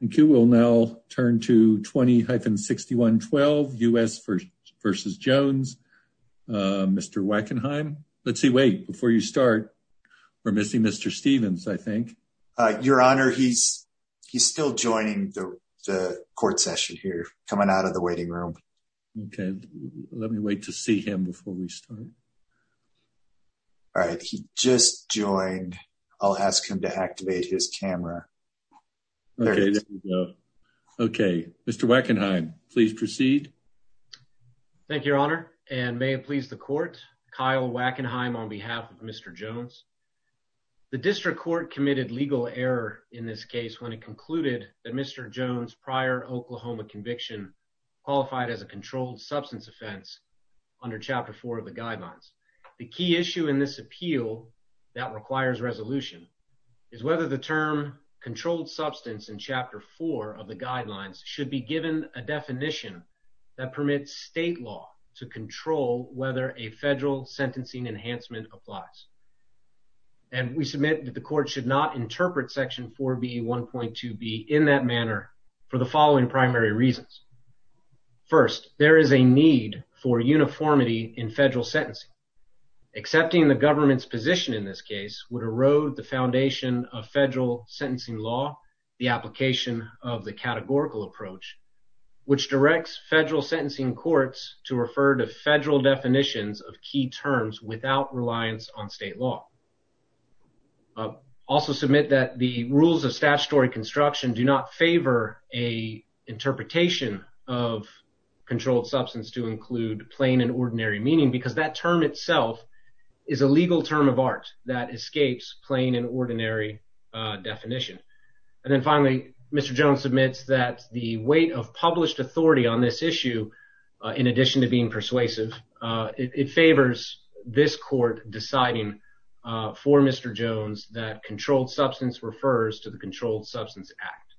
Thank you. We'll now turn to 20-6112, U.S. v. Jones. Mr. Wackenheim. Let's see. Wait. Before you start, we're missing Mr. Stevens, I think. Your Honor, he's still joining the court session here, coming out of the waiting room. Okay. Let me wait to see him before we start. All right. He just joined. I'll ask him to activate his camera. Okay. There we go. Okay. Mr. Wackenheim, please proceed. Thank you, Your Honor. And may it please the court, Kyle Wackenheim on behalf of Mr. Jones. The district court committed legal error in this case when it concluded that Mr. Jones' prior Oklahoma conviction qualified as a controlled substance offense under Chapter 4 of the guidelines. The key issue in this appeal that requires resolution is whether the term controlled substance in Chapter 4 of the guidelines should be given a definition that permits state law to control whether a federal sentencing enhancement applies. And we submit that the court should not interpret Section 4B 1.2B in that manner for the following primary reasons. First, there is a need for uniformity in federal sentencing. Accepting the government's position in this case would erode the foundation of federal sentencing law, the application of the categorical approach, which directs federal sentencing courts to refer to federal definitions of key terms without reliance on state law. Also submit that the rules of statutory construction do not favor a interpretation of controlled substance to include plain and ordinary meaning, because that term itself is a legal term of art that escapes plain and ordinary definition. And then finally, Mr. Jones submits that the weight of published authority on this issue, in addition to being persuasive, it favors this court deciding for Mr. Jones that controlled substance refers to the Controlled Substance Act.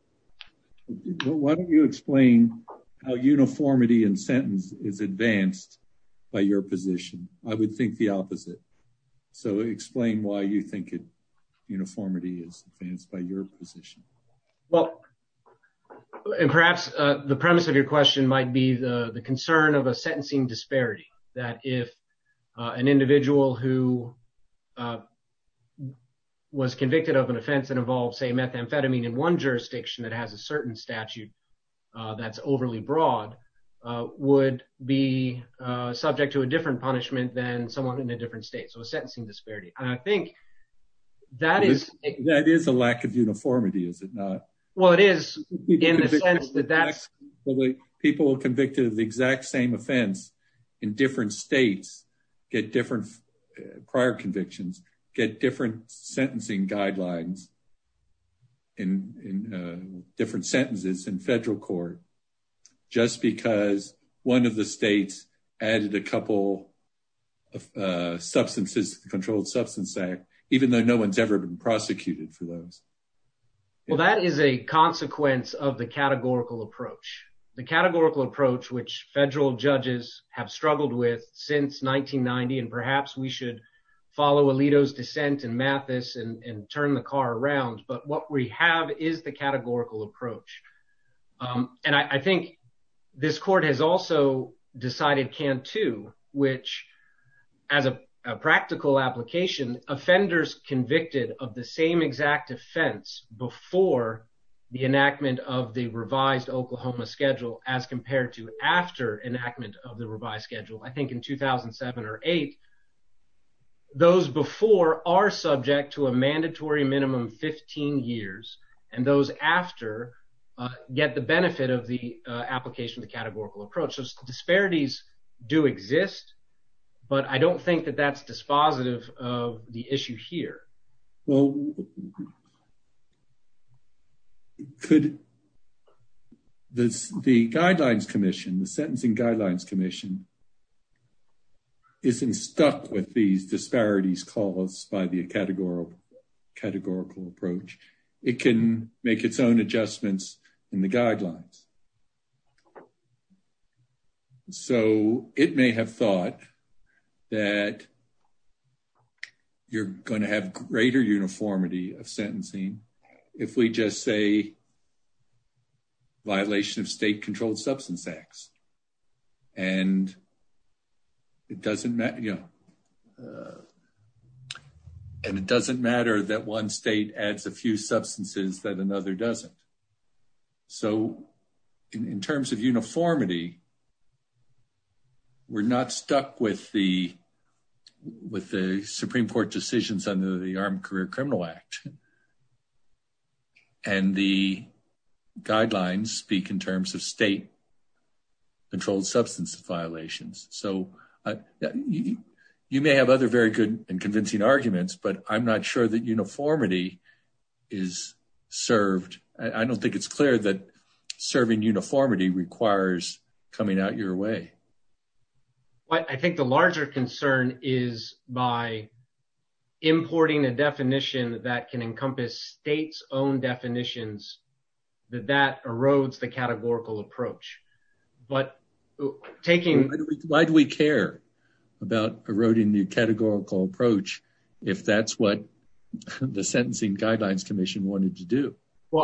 Why don't you explain how uniformity in sentence is advanced by your position? I would think the opposite. So explain why you think uniformity is advanced by your position. Well, and perhaps the premise of your question might be the concern of a sentencing disparity, that if an individual who was convicted of an offense that involves, say, methamphetamine in one jurisdiction that has a certain statute that's overly broad, would be subject to a different punishment than someone in a different state. So a sentencing disparity. I think that is... That is a lack of uniformity, is it not? Well, it is in the sense that that's... People convicted of the exact same offense in different states get different prior convictions, get different sentencing guidelines in different sentences in federal court, just because one of the states added a couple of substances to the Controlled Substance Act, even though no one's ever been prosecuted for those. Well, that is a consequence of the categorical approach. The categorical approach which federal judges have struggled with since 1990, and perhaps we should follow Alito's dissent and Mathis and turn the car around, but what we have is the categorical approach. And I think this court has also decided can't too, which as a practical application, offenders convicted of the same exact offense before the enactment of the revised Oklahoma schedule as compared to after enactment of the revised schedule. I think in 2007 or 8, those before are subject to a mandatory minimum 15 years, and those after get the benefit of the application of the categorical approach. So disparities do exist, but I don't think that that's dispositive of the issue here. Well, could the Guidelines Commission, the Sentencing Guidelines Commission, isn't stuck with these disparities caused by the categorical approach. It can make its own adjustments in the guidelines. So, it may have thought that you're going to have greater uniformity of sentencing if we just say violation of state controlled substance acts. And it doesn't matter that one state adds a few in terms of uniformity. We're not stuck with the Supreme Court decisions under the Armed Career Criminal Act. And the guidelines speak in terms of state controlled substance violations. So, you may have other very good and convincing arguments, but I'm not sure that uniformity is served. I don't think it's clear that serving uniformity requires coming out your way. I think the larger concern is by importing a definition that can encompass state's own definitions, that that erodes the categorical approach. But taking... Well,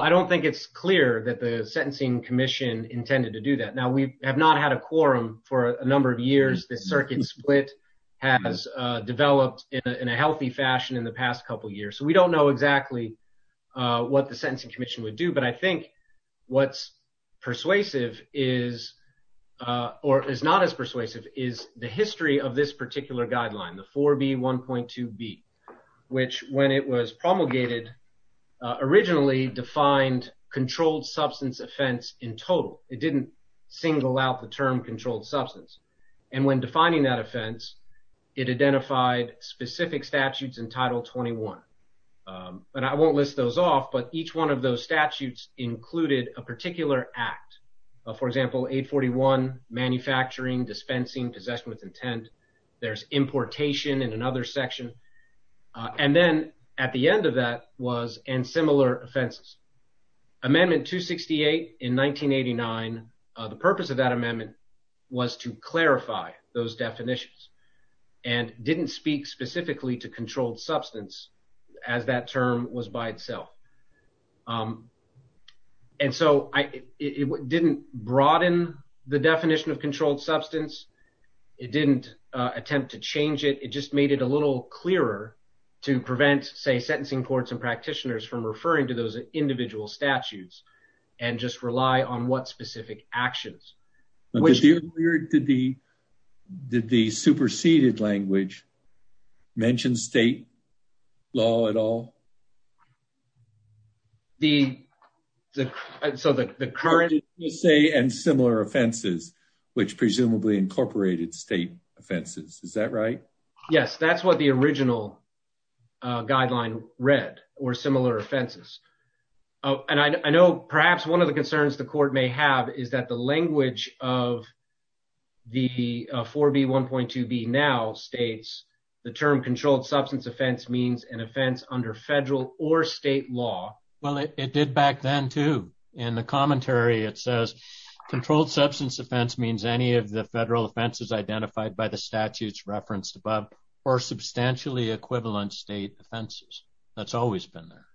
I don't think it's clear that the Sentencing Commission intended to do that. Now, we have not had a quorum for a number of years. The circuit split has developed in a healthy fashion in the past couple of years. So, we don't know exactly what the Sentencing Commission would do. But I think what's persuasive is, or is not as persuasive, is the history of this particular guideline, the 4B1.2B, which when it was promulgated, originally defined controlled substance offense in total. It didn't single out the term controlled substance. And when defining that offense, it identified specific statutes in Title 21. And I won't list those off, but each one of those statutes included a particular act. For example, 841, manufacturing, dispensing, possession with intent. There's importation in another section. And then at the end of that was, and similar offenses. Amendment 268 in 1989, the purpose of that amendment was to clarify those definitions and didn't speak specifically to controlled substance as that term was by itself. And so, it didn't broaden the definition of controlled substance. It didn't attempt to change it. It just made it a little clearer to prevent, say, sentencing courts and practitioners from referring to those individual statutes and just rely on what specific actions. Did the superseded language mention state law at all? The, so the current... And similar offenses, which presumably incorporated state offenses. Is that right? Yes, that's what the original guideline read, or similar offenses. And I know perhaps one of the of the 4B1.2B now states the term controlled substance offense means an offense under federal or state law. Well, it did back then too. In the commentary, it says controlled substance offense means any of the federal offenses identified by the statutes referenced above or substantially equivalent state offenses. That's always been there.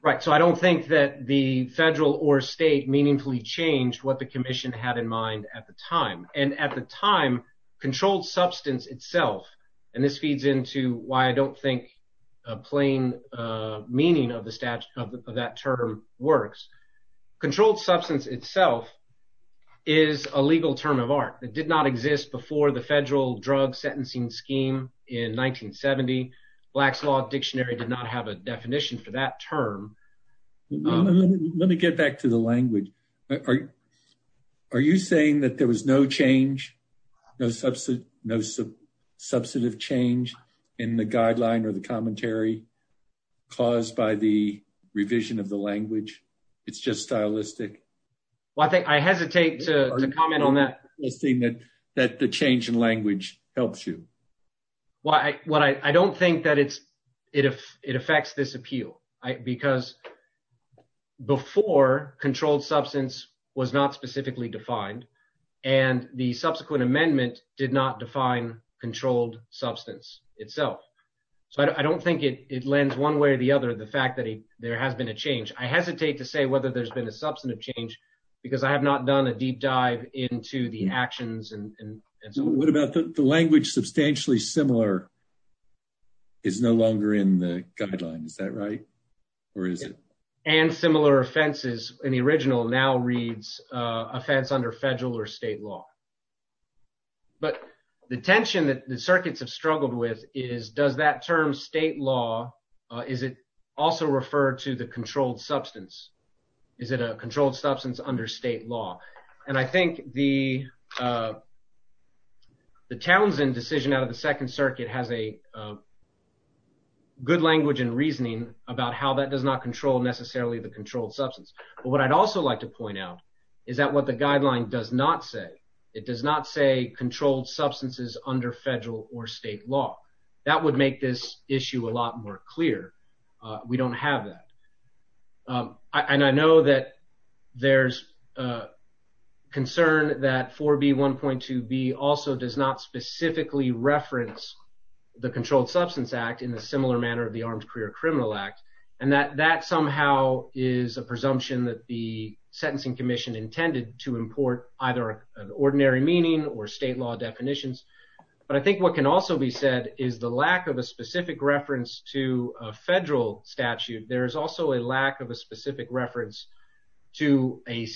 Right. So, I don't think that the federal or state meaningfully changed what the commission had in mind at the time. And at the time, controlled substance itself, and this feeds into why I don't think a plain meaning of the statute of that term works. Controlled substance itself is a legal term of art that did not exist before the federal drug sentencing scheme in 1970. Black's Law Dictionary did not have a definition for that term. Let me get back to the language. Are you saying that there was no change, no substantive change in the guideline or the commentary caused by the revision of the language? It's just stylistic? Well, I think I hesitate to comment on that. That the change in language helps you. Well, I don't think that it affects this appeal because before controlled substance was not specifically defined and the subsequent amendment did not define controlled substance itself. So, I don't think it lends one way or the other, the fact that there has been a change. I hesitate to say whether there's been a substantive change because I have not done a deep dive into the actions and so on. What about the language substantially similar is no longer in the guideline, is that right? Or is it? And similar offenses in the original now reads offense under federal or state law. But the tension that the circuits have struggled with is does that term state law, is it also referred to the controlled substance? Is it a controlled substance under state law? And I think the Townsend decision out of the second circuit has a good language and reasoning about how that does not control necessarily the controlled substance. But what I'd also like to point out is that what the guideline does not say, it does not say controlled substances under federal or state law. That would make this issue a lot more clear. We don't have that. And I know that there's a concern that 4B1.2B also does not specifically reference the Controlled Substance Act in a similar manner of the Armed Career Criminal Act. And that somehow is a presumption that the Sentencing Commission intended to import either an ordinary meaning or state law definitions. But I think what can also be said is the lack of a federal statute, there is also a lack of a specific reference to a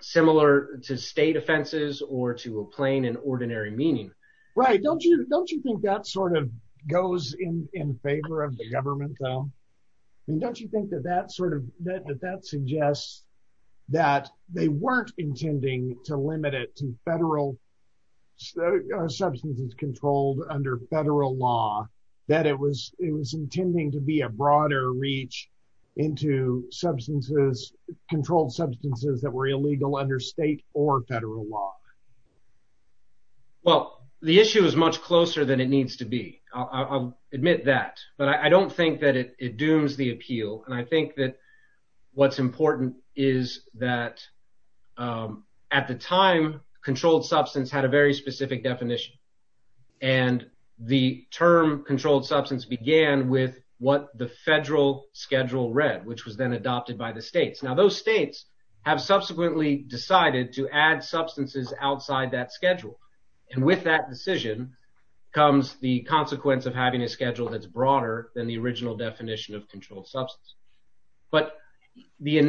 similar to state offenses or to a plain and ordinary meaning. Right. Don't you think that sort of goes in favor of the government, though? I mean, don't you think that that suggests that they weren't intending to limit it to federal substances controlled under federal law, that it was it was intending to be a broader reach into substances, controlled substances that were illegal under state or federal law? Well, the issue is much closer than it needs to be. I'll admit that. But I don't think that it dooms the appeal. And I think that what's important is that at the time, controlled substance had a very specific definition. And the term controlled substance began with what the federal schedule read, which was then adopted by the states. Now, those states have subsequently decided to add substances outside that schedule. And with that decision comes the consequence of having a schedule that's broader than the original definition of controlled substance. But the of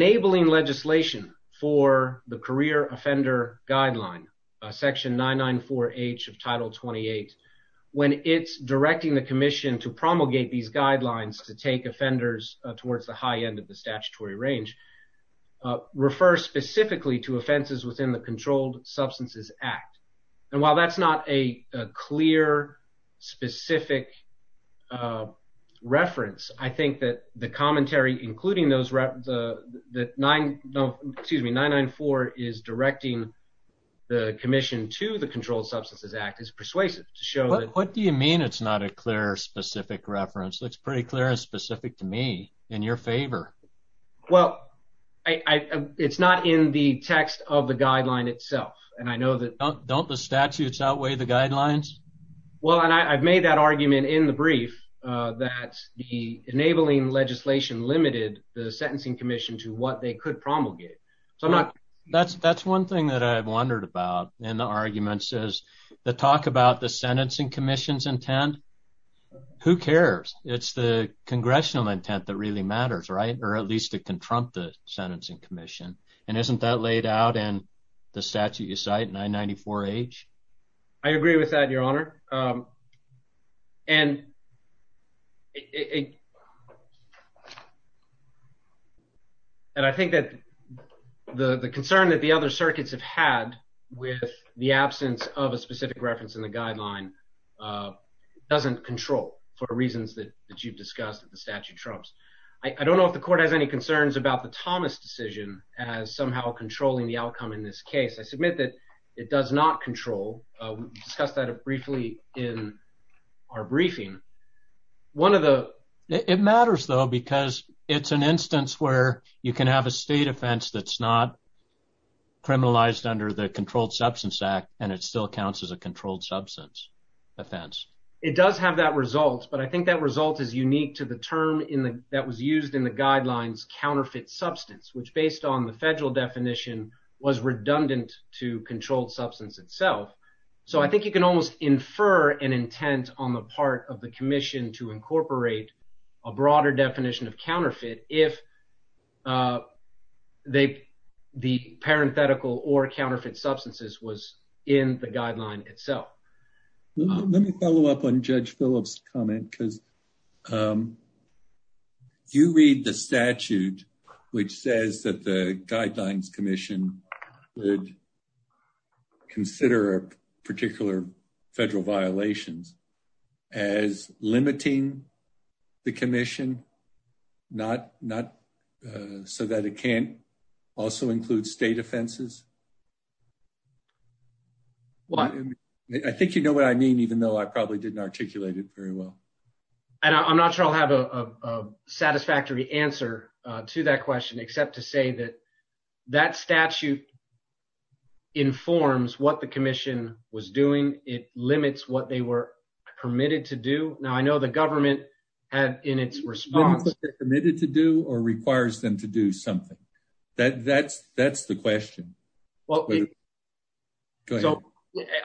Title 28, when it's directing the commission to promulgate these guidelines to take offenders towards the high end of the statutory range, refers specifically to offenses within the Controlled Substances Act. And while that's not a clear, specific reference, I think that commentary, including those that nine, excuse me, nine, nine, four is directing the commission to the Controlled Substances Act is persuasive to show. What do you mean? It's not a clear, specific reference that's pretty clear and specific to me in your favor. Well, it's not in the text of the guideline itself. And I know that don't the statutes outweigh the guidelines. Well, and I've made that argument in the brief that the enabling legislation limited the Sentencing Commission to what they could promulgate. So I'm not. That's that's one thing that I've wondered about in the arguments is the talk about the Sentencing Commission's intent. Who cares? It's the congressional intent that really matters, right? Or at least it can trump the Sentencing Commission. And isn't that laid out in the statute you cite, 994H? I agree with that, Your Honor. And I think that the concern that the other circuits have had with the absence of a specific reference in the guideline doesn't control for reasons that you've discussed that the statute trumps. I don't know if the court has any concerns about the Thomas decision as somehow controlling the outcome in this case. I submit that it does not control. We discussed that briefly in our briefing. One of the... It matters, though, because it's an instance where you can have a state offense that's not criminalized under the Controlled Substance Act, and it still counts as a controlled substance offense. It does have that result, but I think that result is unique to the term that was used in the guidelines, counterfeit substance, which based on the federal definition was redundant to controlled substance itself. So I think you can almost infer an intent on the part of the commission to incorporate a broader definition of counterfeit if the parenthetical or counterfeit substances was in the guideline itself. Let me follow up on Judge Phillips' comment, because you read the statute which says that the guidelines commission would consider particular federal violations as limiting the commission so that it can't also include state offenses. Well, I think you know what I mean, even though I probably didn't articulate it very well. And I'm not sure I'll have a satisfactory answer to that question, except to say that that statute informs what the commission was doing. It limits what they were permitted to do. Now, I know the government had in its response... Limits what they're committed to do or requires them to do something. That's the question. Well,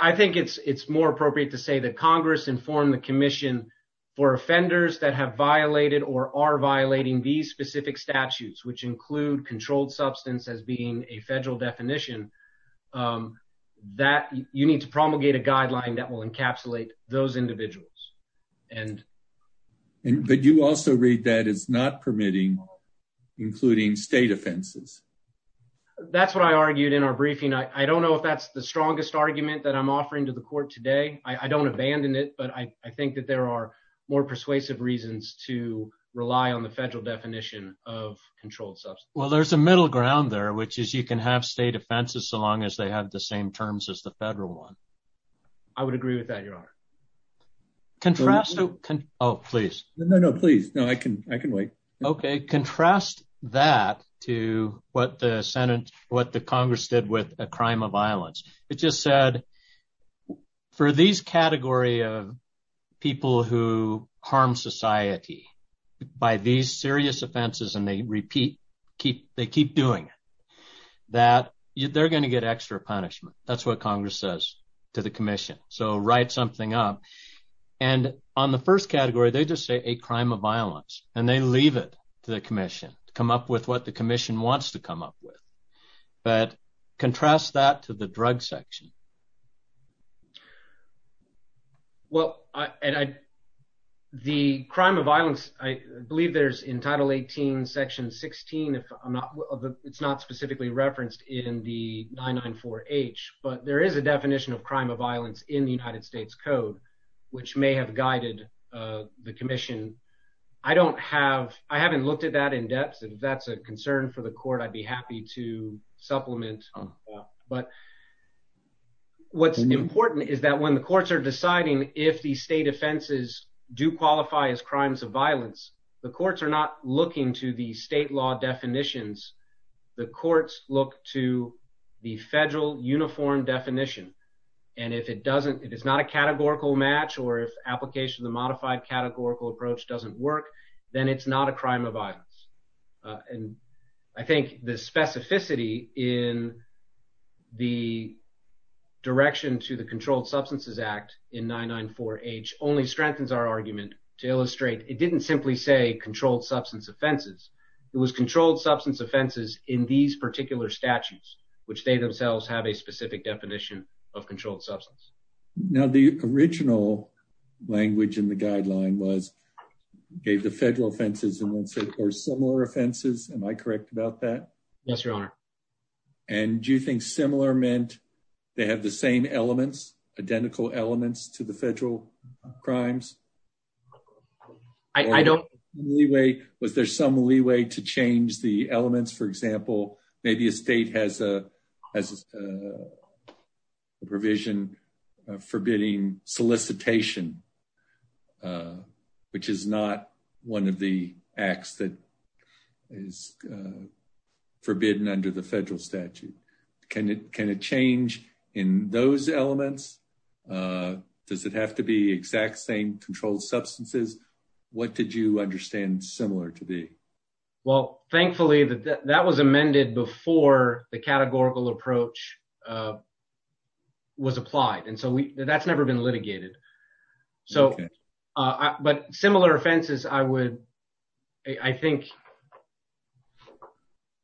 I think it's more appropriate to say that Congress informed the commission for offenders that have violated or are violating these specific statutes, which include controlled substance as being a federal definition, that you need to promulgate a guideline that will encapsulate those individuals. But you also read that as not permitting, including state offenses. That's what I argued in our briefing. I don't know if that's the strongest argument that I'm offering to the court today. I don't abandon it, but I think that there are more persuasive reasons to rely on the federal definition of controlled substance. Well, there's a middle ground there, which is you can have state offenses so long as they have the same terms as the federal one. I would agree with that, Your Honor. Contrast... Oh, please. No, no, please. No, I can wait. Okay. Contrast that to what the Congress did with a crime of violence. It just said, for these category of people who harm society by these serious offenses, and they keep doing it, that they're going to get extra punishment. That's what Congress says to the commission. So, write something up. And on the first category, they just say a crime of violence, and they leave it to the commission to come up with what the commission wants to come up with. But contrast that to the drug section. Well, the crime of violence, I believe there's in Title 18, Section 16, it's not specifically referenced in the 994H, but there is a definition of crime of violence in the United States Code, which may have guided the commission. I don't have... I haven't looked at that in depth. If that's a concern for the court, I'd be happy to supplement that. But what's important is that when the courts are deciding if the state offenses do qualify as crimes of violence, the courts are not looking to the If it's not a categorical match, or if application of the modified categorical approach doesn't work, then it's not a crime of violence. And I think the specificity in the direction to the Controlled Substances Act in 994H only strengthens our argument to illustrate it didn't simply say controlled substance offenses. It was controlled substance offenses in these particular statutes, which they themselves have a specific definition of Now, the original language in the guideline was gave the federal offenses and then said, or similar offenses. Am I correct about that? Yes, Your Honor. And do you think similar meant they have the same elements, identical elements to the federal crimes? I don't... Was there some leeway to change the elements? For example, maybe a state has a provision forbidding solicitation, which is not one of the acts that is forbidden under the federal statute. Can it change in those elements? Does it have to be exact same controlled substances? What did you understand similar to be? Well, thankfully, that was amended before the categorical approach was applied. And so that's never been litigated. So, but similar offenses, I would, I think,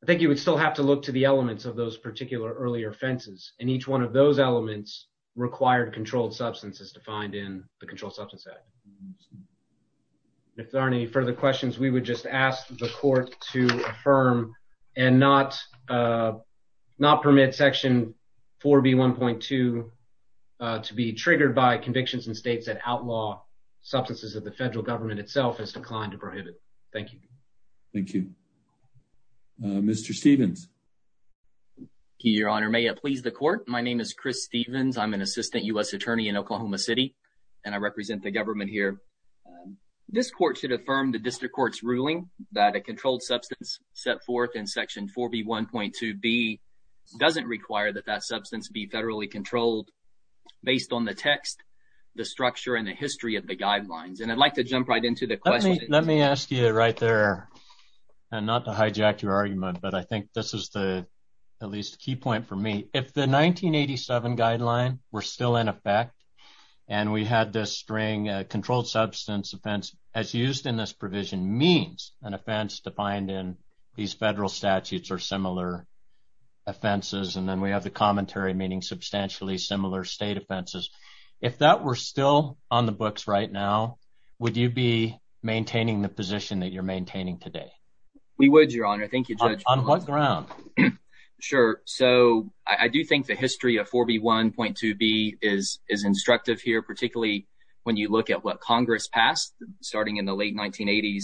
I think you would still have to look to the elements of those particular earlier offenses. And each one of those elements required controlled substances defined in the Controlled Substances Act. If there aren't any further questions, we would just ask the court to affirm and not permit Section 4B1.2 to be triggered by convictions in states that outlaw substances that the federal government itself has declined to prohibit. Thank you. Thank you. Mr. Stevens. Your Honor, may it please the court. My name is Chris Stevens. I'm an assistant U.S. attorney in Oklahoma City, and I represent the government here. This court should affirm the district court's ruling that a controlled substance set forth in Section 4B1.2b doesn't require that that substance be federally controlled based on the text, the structure and the history of the guidelines. And I'd like to jump right into the question. Let me ask you right there, and not to hijack your argument, but I think this is the at least key point for me. If the 1987 guideline were still in effect and we had this string controlled substance offense as used in this provision means an offense defined in these federal statutes or similar offenses, and then we have the commentary meaning substantially similar state offenses. If that were still on the books right now, would you be maintaining the position that you're maintaining today? We would, Your Honor. Thank you, Judge. On what ground? Sure. So I do think the history of 4B1.2b is instructive here, particularly when you look at what Congress passed starting in the late 1980s.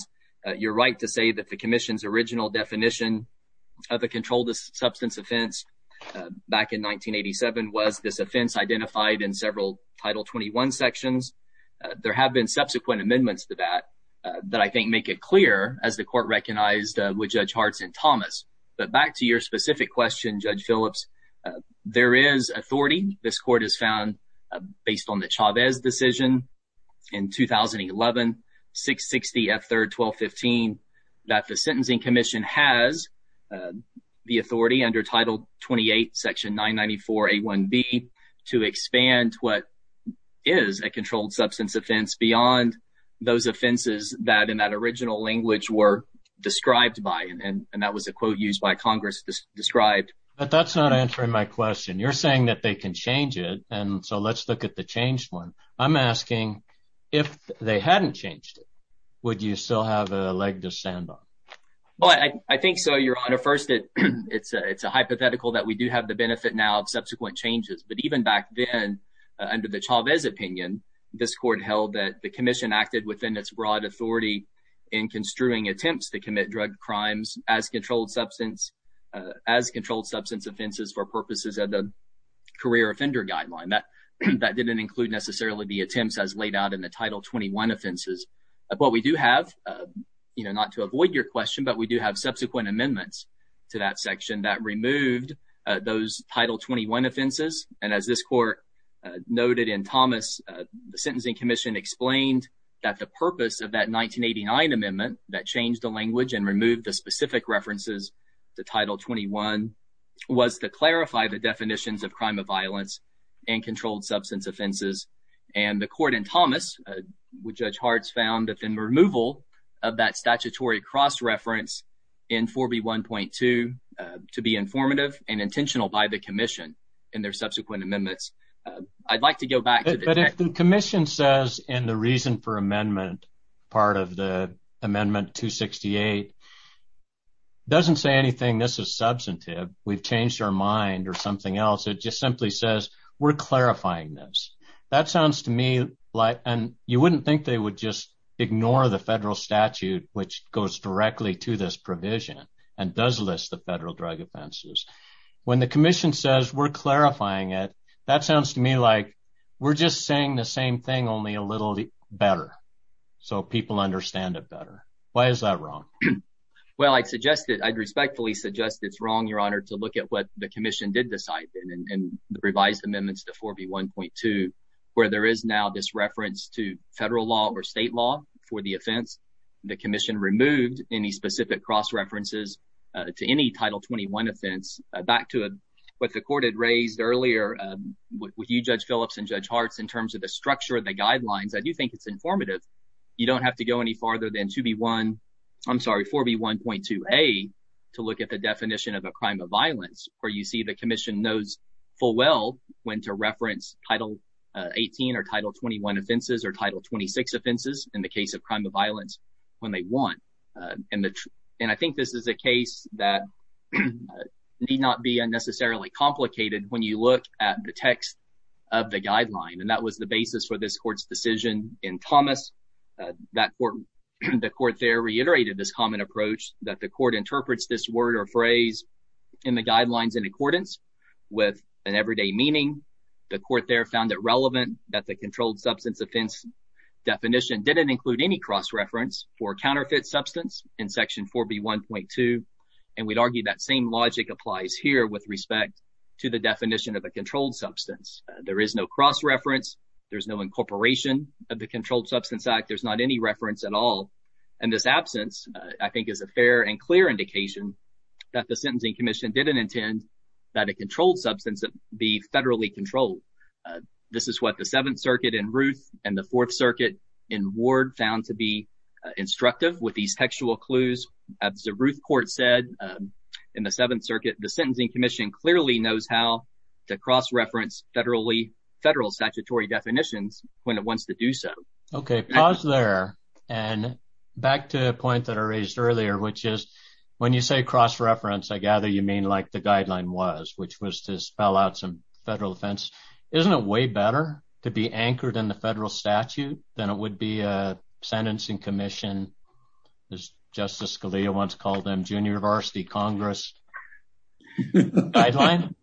You're right to say that the commission's original definition of a controlled substance offense back in 1987 was this offense identified in several Title 21 sections. There have been subsequent amendments to that that I think make it clear as the court recognized with Judge Hartz and Thomas. But back to your specific question, Judge Phillips, there is authority. This court has found based on the Chavez decision in 2011, 660 F3rd 1215, that the Sentencing Commission has the authority under Title 28, Section 994 A1b to expand what is a controlled substance offense beyond those offenses that in that original language were described by. And that was a quote used by Congress described. But that's not answering my question. You're saying that they can change it, and so let's look at the changed one. I'm asking, if they hadn't changed it, would you still have a leg to stand on? Well, I think so, Your Honor. First, it's a hypothetical that we do have the benefit now of subsequent changes. But even back then, under the Chavez opinion, this court held that the commission acted within its broad authority in construing attempts to commit drug crimes as controlled substance offenses for purposes of the career offender guideline. That didn't include necessarily the attempts as laid out in the Title 21 offenses. But we do have, not to avoid your question, but we do have subsequent amendments to that section that removed those Title 21 offenses. And as this court noted in Thomas, the Sentencing Commission explained that the purpose of that 1989 amendment that changed the language and removed the specific references to Title 21 was to clarify the definitions of crime of violence and controlled substance offenses. And the court in Thomas, which Judge Breslin referred to, said that the reason for amendment part of the amendment 268 doesn't say anything. This is substantive. We've changed our mind or something else. It just simply says we're clarifying this. That sounds to me like, and you wouldn't think they would just list the federal drug offenses. When the commission says we're clarifying it, that sounds to me like we're just saying the same thing, only a little better, so people understand it better. Why is that wrong? Well, I'd respectfully suggest it's wrong, Your Honor, to look at what the commission did decide in the revised amendments to 4B1.2, where there is now this reference to federal law or state law for the offense. The commission removed any specific cross-references to any Title 21 offense. Back to what the court had raised earlier with you, Judge Phillips and Judge Hartz, in terms of the structure of the guidelines, I do think it's informative. You don't have to go any farther than 4B1.2a to look at the definition of a crime of violence, where you see the commission knows full well when to reference Title 18 or Title 21 offenses or Title 26 offenses in the case of crime of violence, when they want. And I think this is a case that need not be unnecessarily complicated when you look at the text of the guideline, and that was the basis for this court's decision in Thomas. The court there reiterated this common approach that the court interprets this word or phrase in the guidelines in accordance with an everyday meaning. The court there found it relevant that the controlled substance offense definition didn't include any cross-reference for counterfeit substance in Section 4B1.2, and we'd argue that same logic applies here with respect to the definition of a controlled substance. There is no cross-reference. There's no incorporation of the Controlled Substance Act. There's not any reference at all. And this absence, I think, is a fair and clear indication that the Sentencing Commission didn't intend that a controlled substance be federally controlled. This is what the Seventh Circuit in Ruth and the Fourth Circuit in Ward found to be instructive with these textual clues. As the Ruth court said in the Seventh Circuit, the Sentencing Commission clearly knows how to cross-reference federal statutory definitions when it wants to do so. Okay, pause there. And back to the point that I raised earlier, which is when you say cross-reference, I gather you mean like the guideline was, which was to spell out some federal defense. Isn't it way better to be anchored in the federal statute than it would be a Sentencing Commission, as Justice Scalia once called them, Junior Varsity Congress Guideline?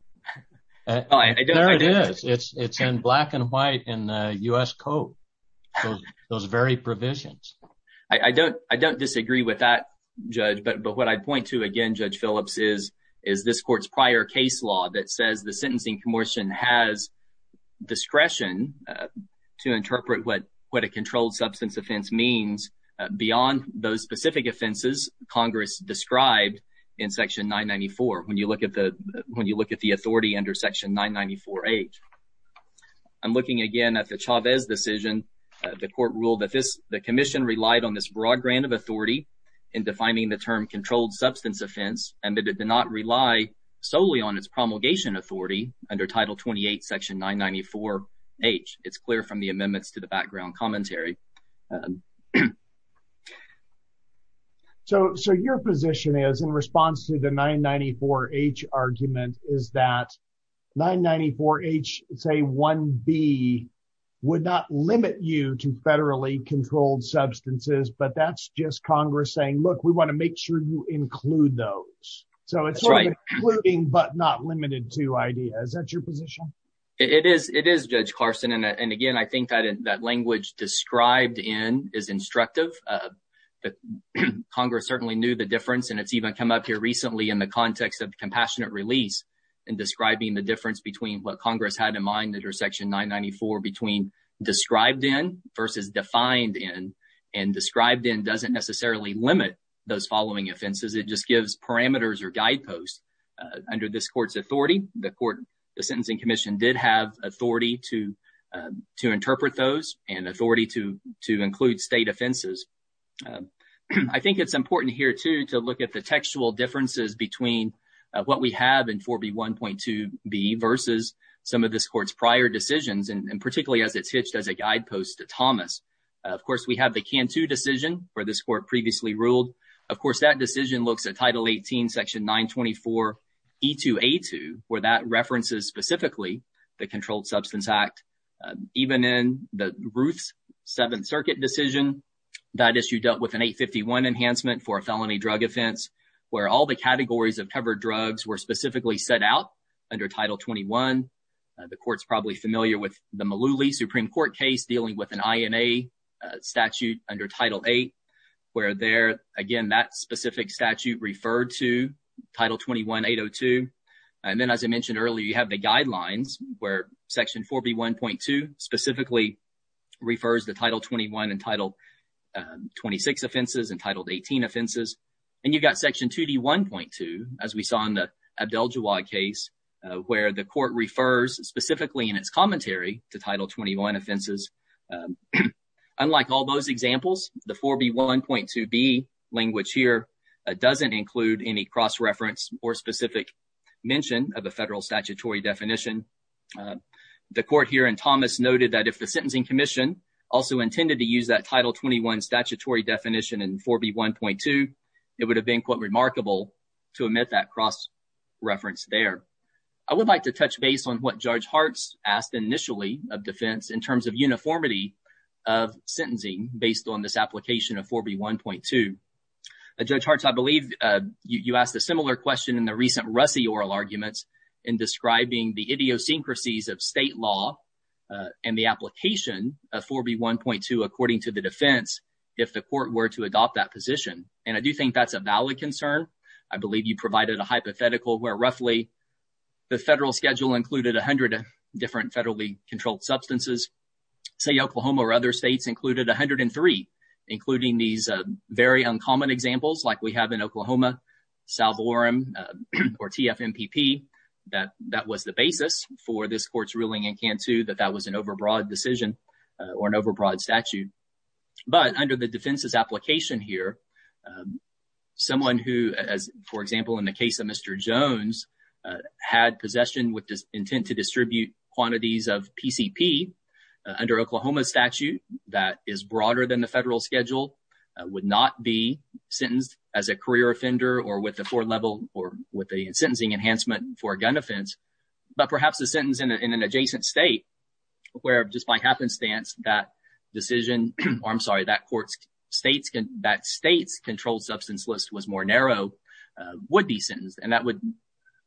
There it is. It's in black and white in the U.S. Code. Those very provisions. I don't disagree with that, Judge, but what I'd point to again, Judge Phillips, is this court's prior case law that says the Sentencing Commission has discretion to interpret what a controlled substance offense means beyond those specific offenses Congress described in Section 994 when you look at the authority under Section 994H. I'm looking again at the Chavez decision. The court ruled that the Commission relied on this broad grant of authority in defining the term controlled substance offense and that it did not rely solely on its promulgation authority under Title 28, Section 994H. It's clear from the amendments to the background commentary. So your position is, in response to the 994H argument, is that 994H, say 1B, would not limit you to federally controlled substances, but that's just Congress saying, look, we want to make sure you include those. So it's sort of including but not limited to Is that your position? It is, Judge Carson. And again, I think that language described in is instructive. Congress certainly knew the difference and it's even come up here recently in the context of compassionate release and describing the difference between what Congress had in mind under Section 994 between described in versus defined in. And described in doesn't necessarily limit those following offenses. It just gives parameters or guideposts. The Court, the Sentencing Commission, did have authority to interpret those and authority to include state offenses. I think it's important here, too, to look at the textual differences between what we have in 4B1.2B versus some of this Court's prior decisions, and particularly as it's hitched as a guidepost to Thomas. Of course, we have the Cantu decision where this E2A2, where that references specifically the Controlled Substance Act. Even in the Ruth's Seventh Circuit decision, that issue dealt with an 851 enhancement for a felony drug offense where all the categories of covered drugs were specifically set out under Title 21. The Court's probably familiar with the Malooly Supreme Court case dealing with an INA statute under Title 8, where there, again, that specific statute referred to Title 21.802. And then, as I mentioned earlier, you have the guidelines where Section 4B1.2 specifically refers to Title 21 and Title 26 offenses and Title 18 offenses. And you've got Section 2D1.2, as we saw in the Abdel Jawad case, where the Court refers specifically in its commentary to Title 21 offenses. Unlike all those examples, the 4B1.2B language here doesn't include any cross-reference or specific mention of a federal statutory definition. The Court here in Thomas noted that if the Sentencing Commission also intended to use that Title 21 statutory definition in 4B1.2, it would have been, quote, to omit that cross-reference there. I would like to touch base on what Judge Hartz asked initially of defense in terms of uniformity of sentencing based on this application of 4B1.2. Judge Hartz, I believe you asked a similar question in the recent Russey oral arguments in describing the idiosyncrasies of state law and the application of 4B1.2 according to the defense if the Court were to adopt that position. And I do think that's a valid concern. I believe you provided a hypothetical where roughly the federal schedule included 100 different federally controlled substances. Say Oklahoma or other states included 103, including these very uncommon examples like we have in Oklahoma, Salvorum, or TFMPP, that that was the basis for this Court's ruling in Cantu that that was an overbroad decision or an overbroad statute. But under the defense's application here, someone who, for example, in the case of Mr. Jones, had possession with the intent to distribute quantities of PCP under Oklahoma's statute that is broader than the federal schedule would not be sentenced as a career offender or with a four-level or with a sentencing enhancement for a gun offense, but perhaps a sentence in an or I'm sorry, that Court's states that state's controlled substance list was more narrow would be sentenced and that would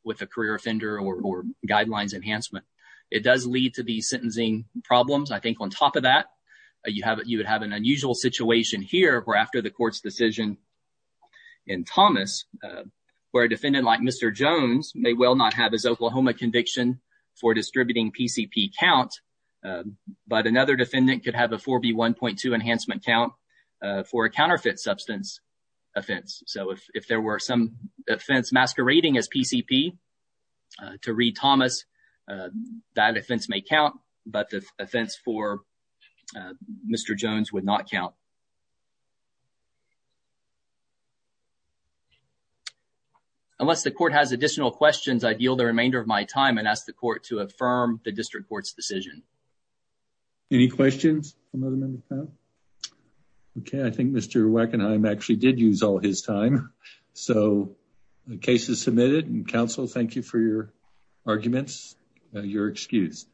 with a career offender or guidelines enhancement. It does lead to the sentencing problems. I think on top of that, you have you would have an unusual situation here where after the Court's decision in Thomas, where a defendant like Mr. Jones may well not have his Oklahoma conviction for distributing PCP count, but another defendant could have a 4B1.2 enhancement count for a counterfeit substance offense. So if there were some offense masquerading as PCP to read Thomas, that offense may count, but the offense for Mr. Jones would not count. Unless the Court has additional questions, I'd yield the remainder of my time and ask the Court to affirm the District Court's decision. Any questions from other members of the panel? Okay, I think Mr. Wackenheim actually did use all his time. So the case is submitted and counsel, thank you for your arguments, your excuse.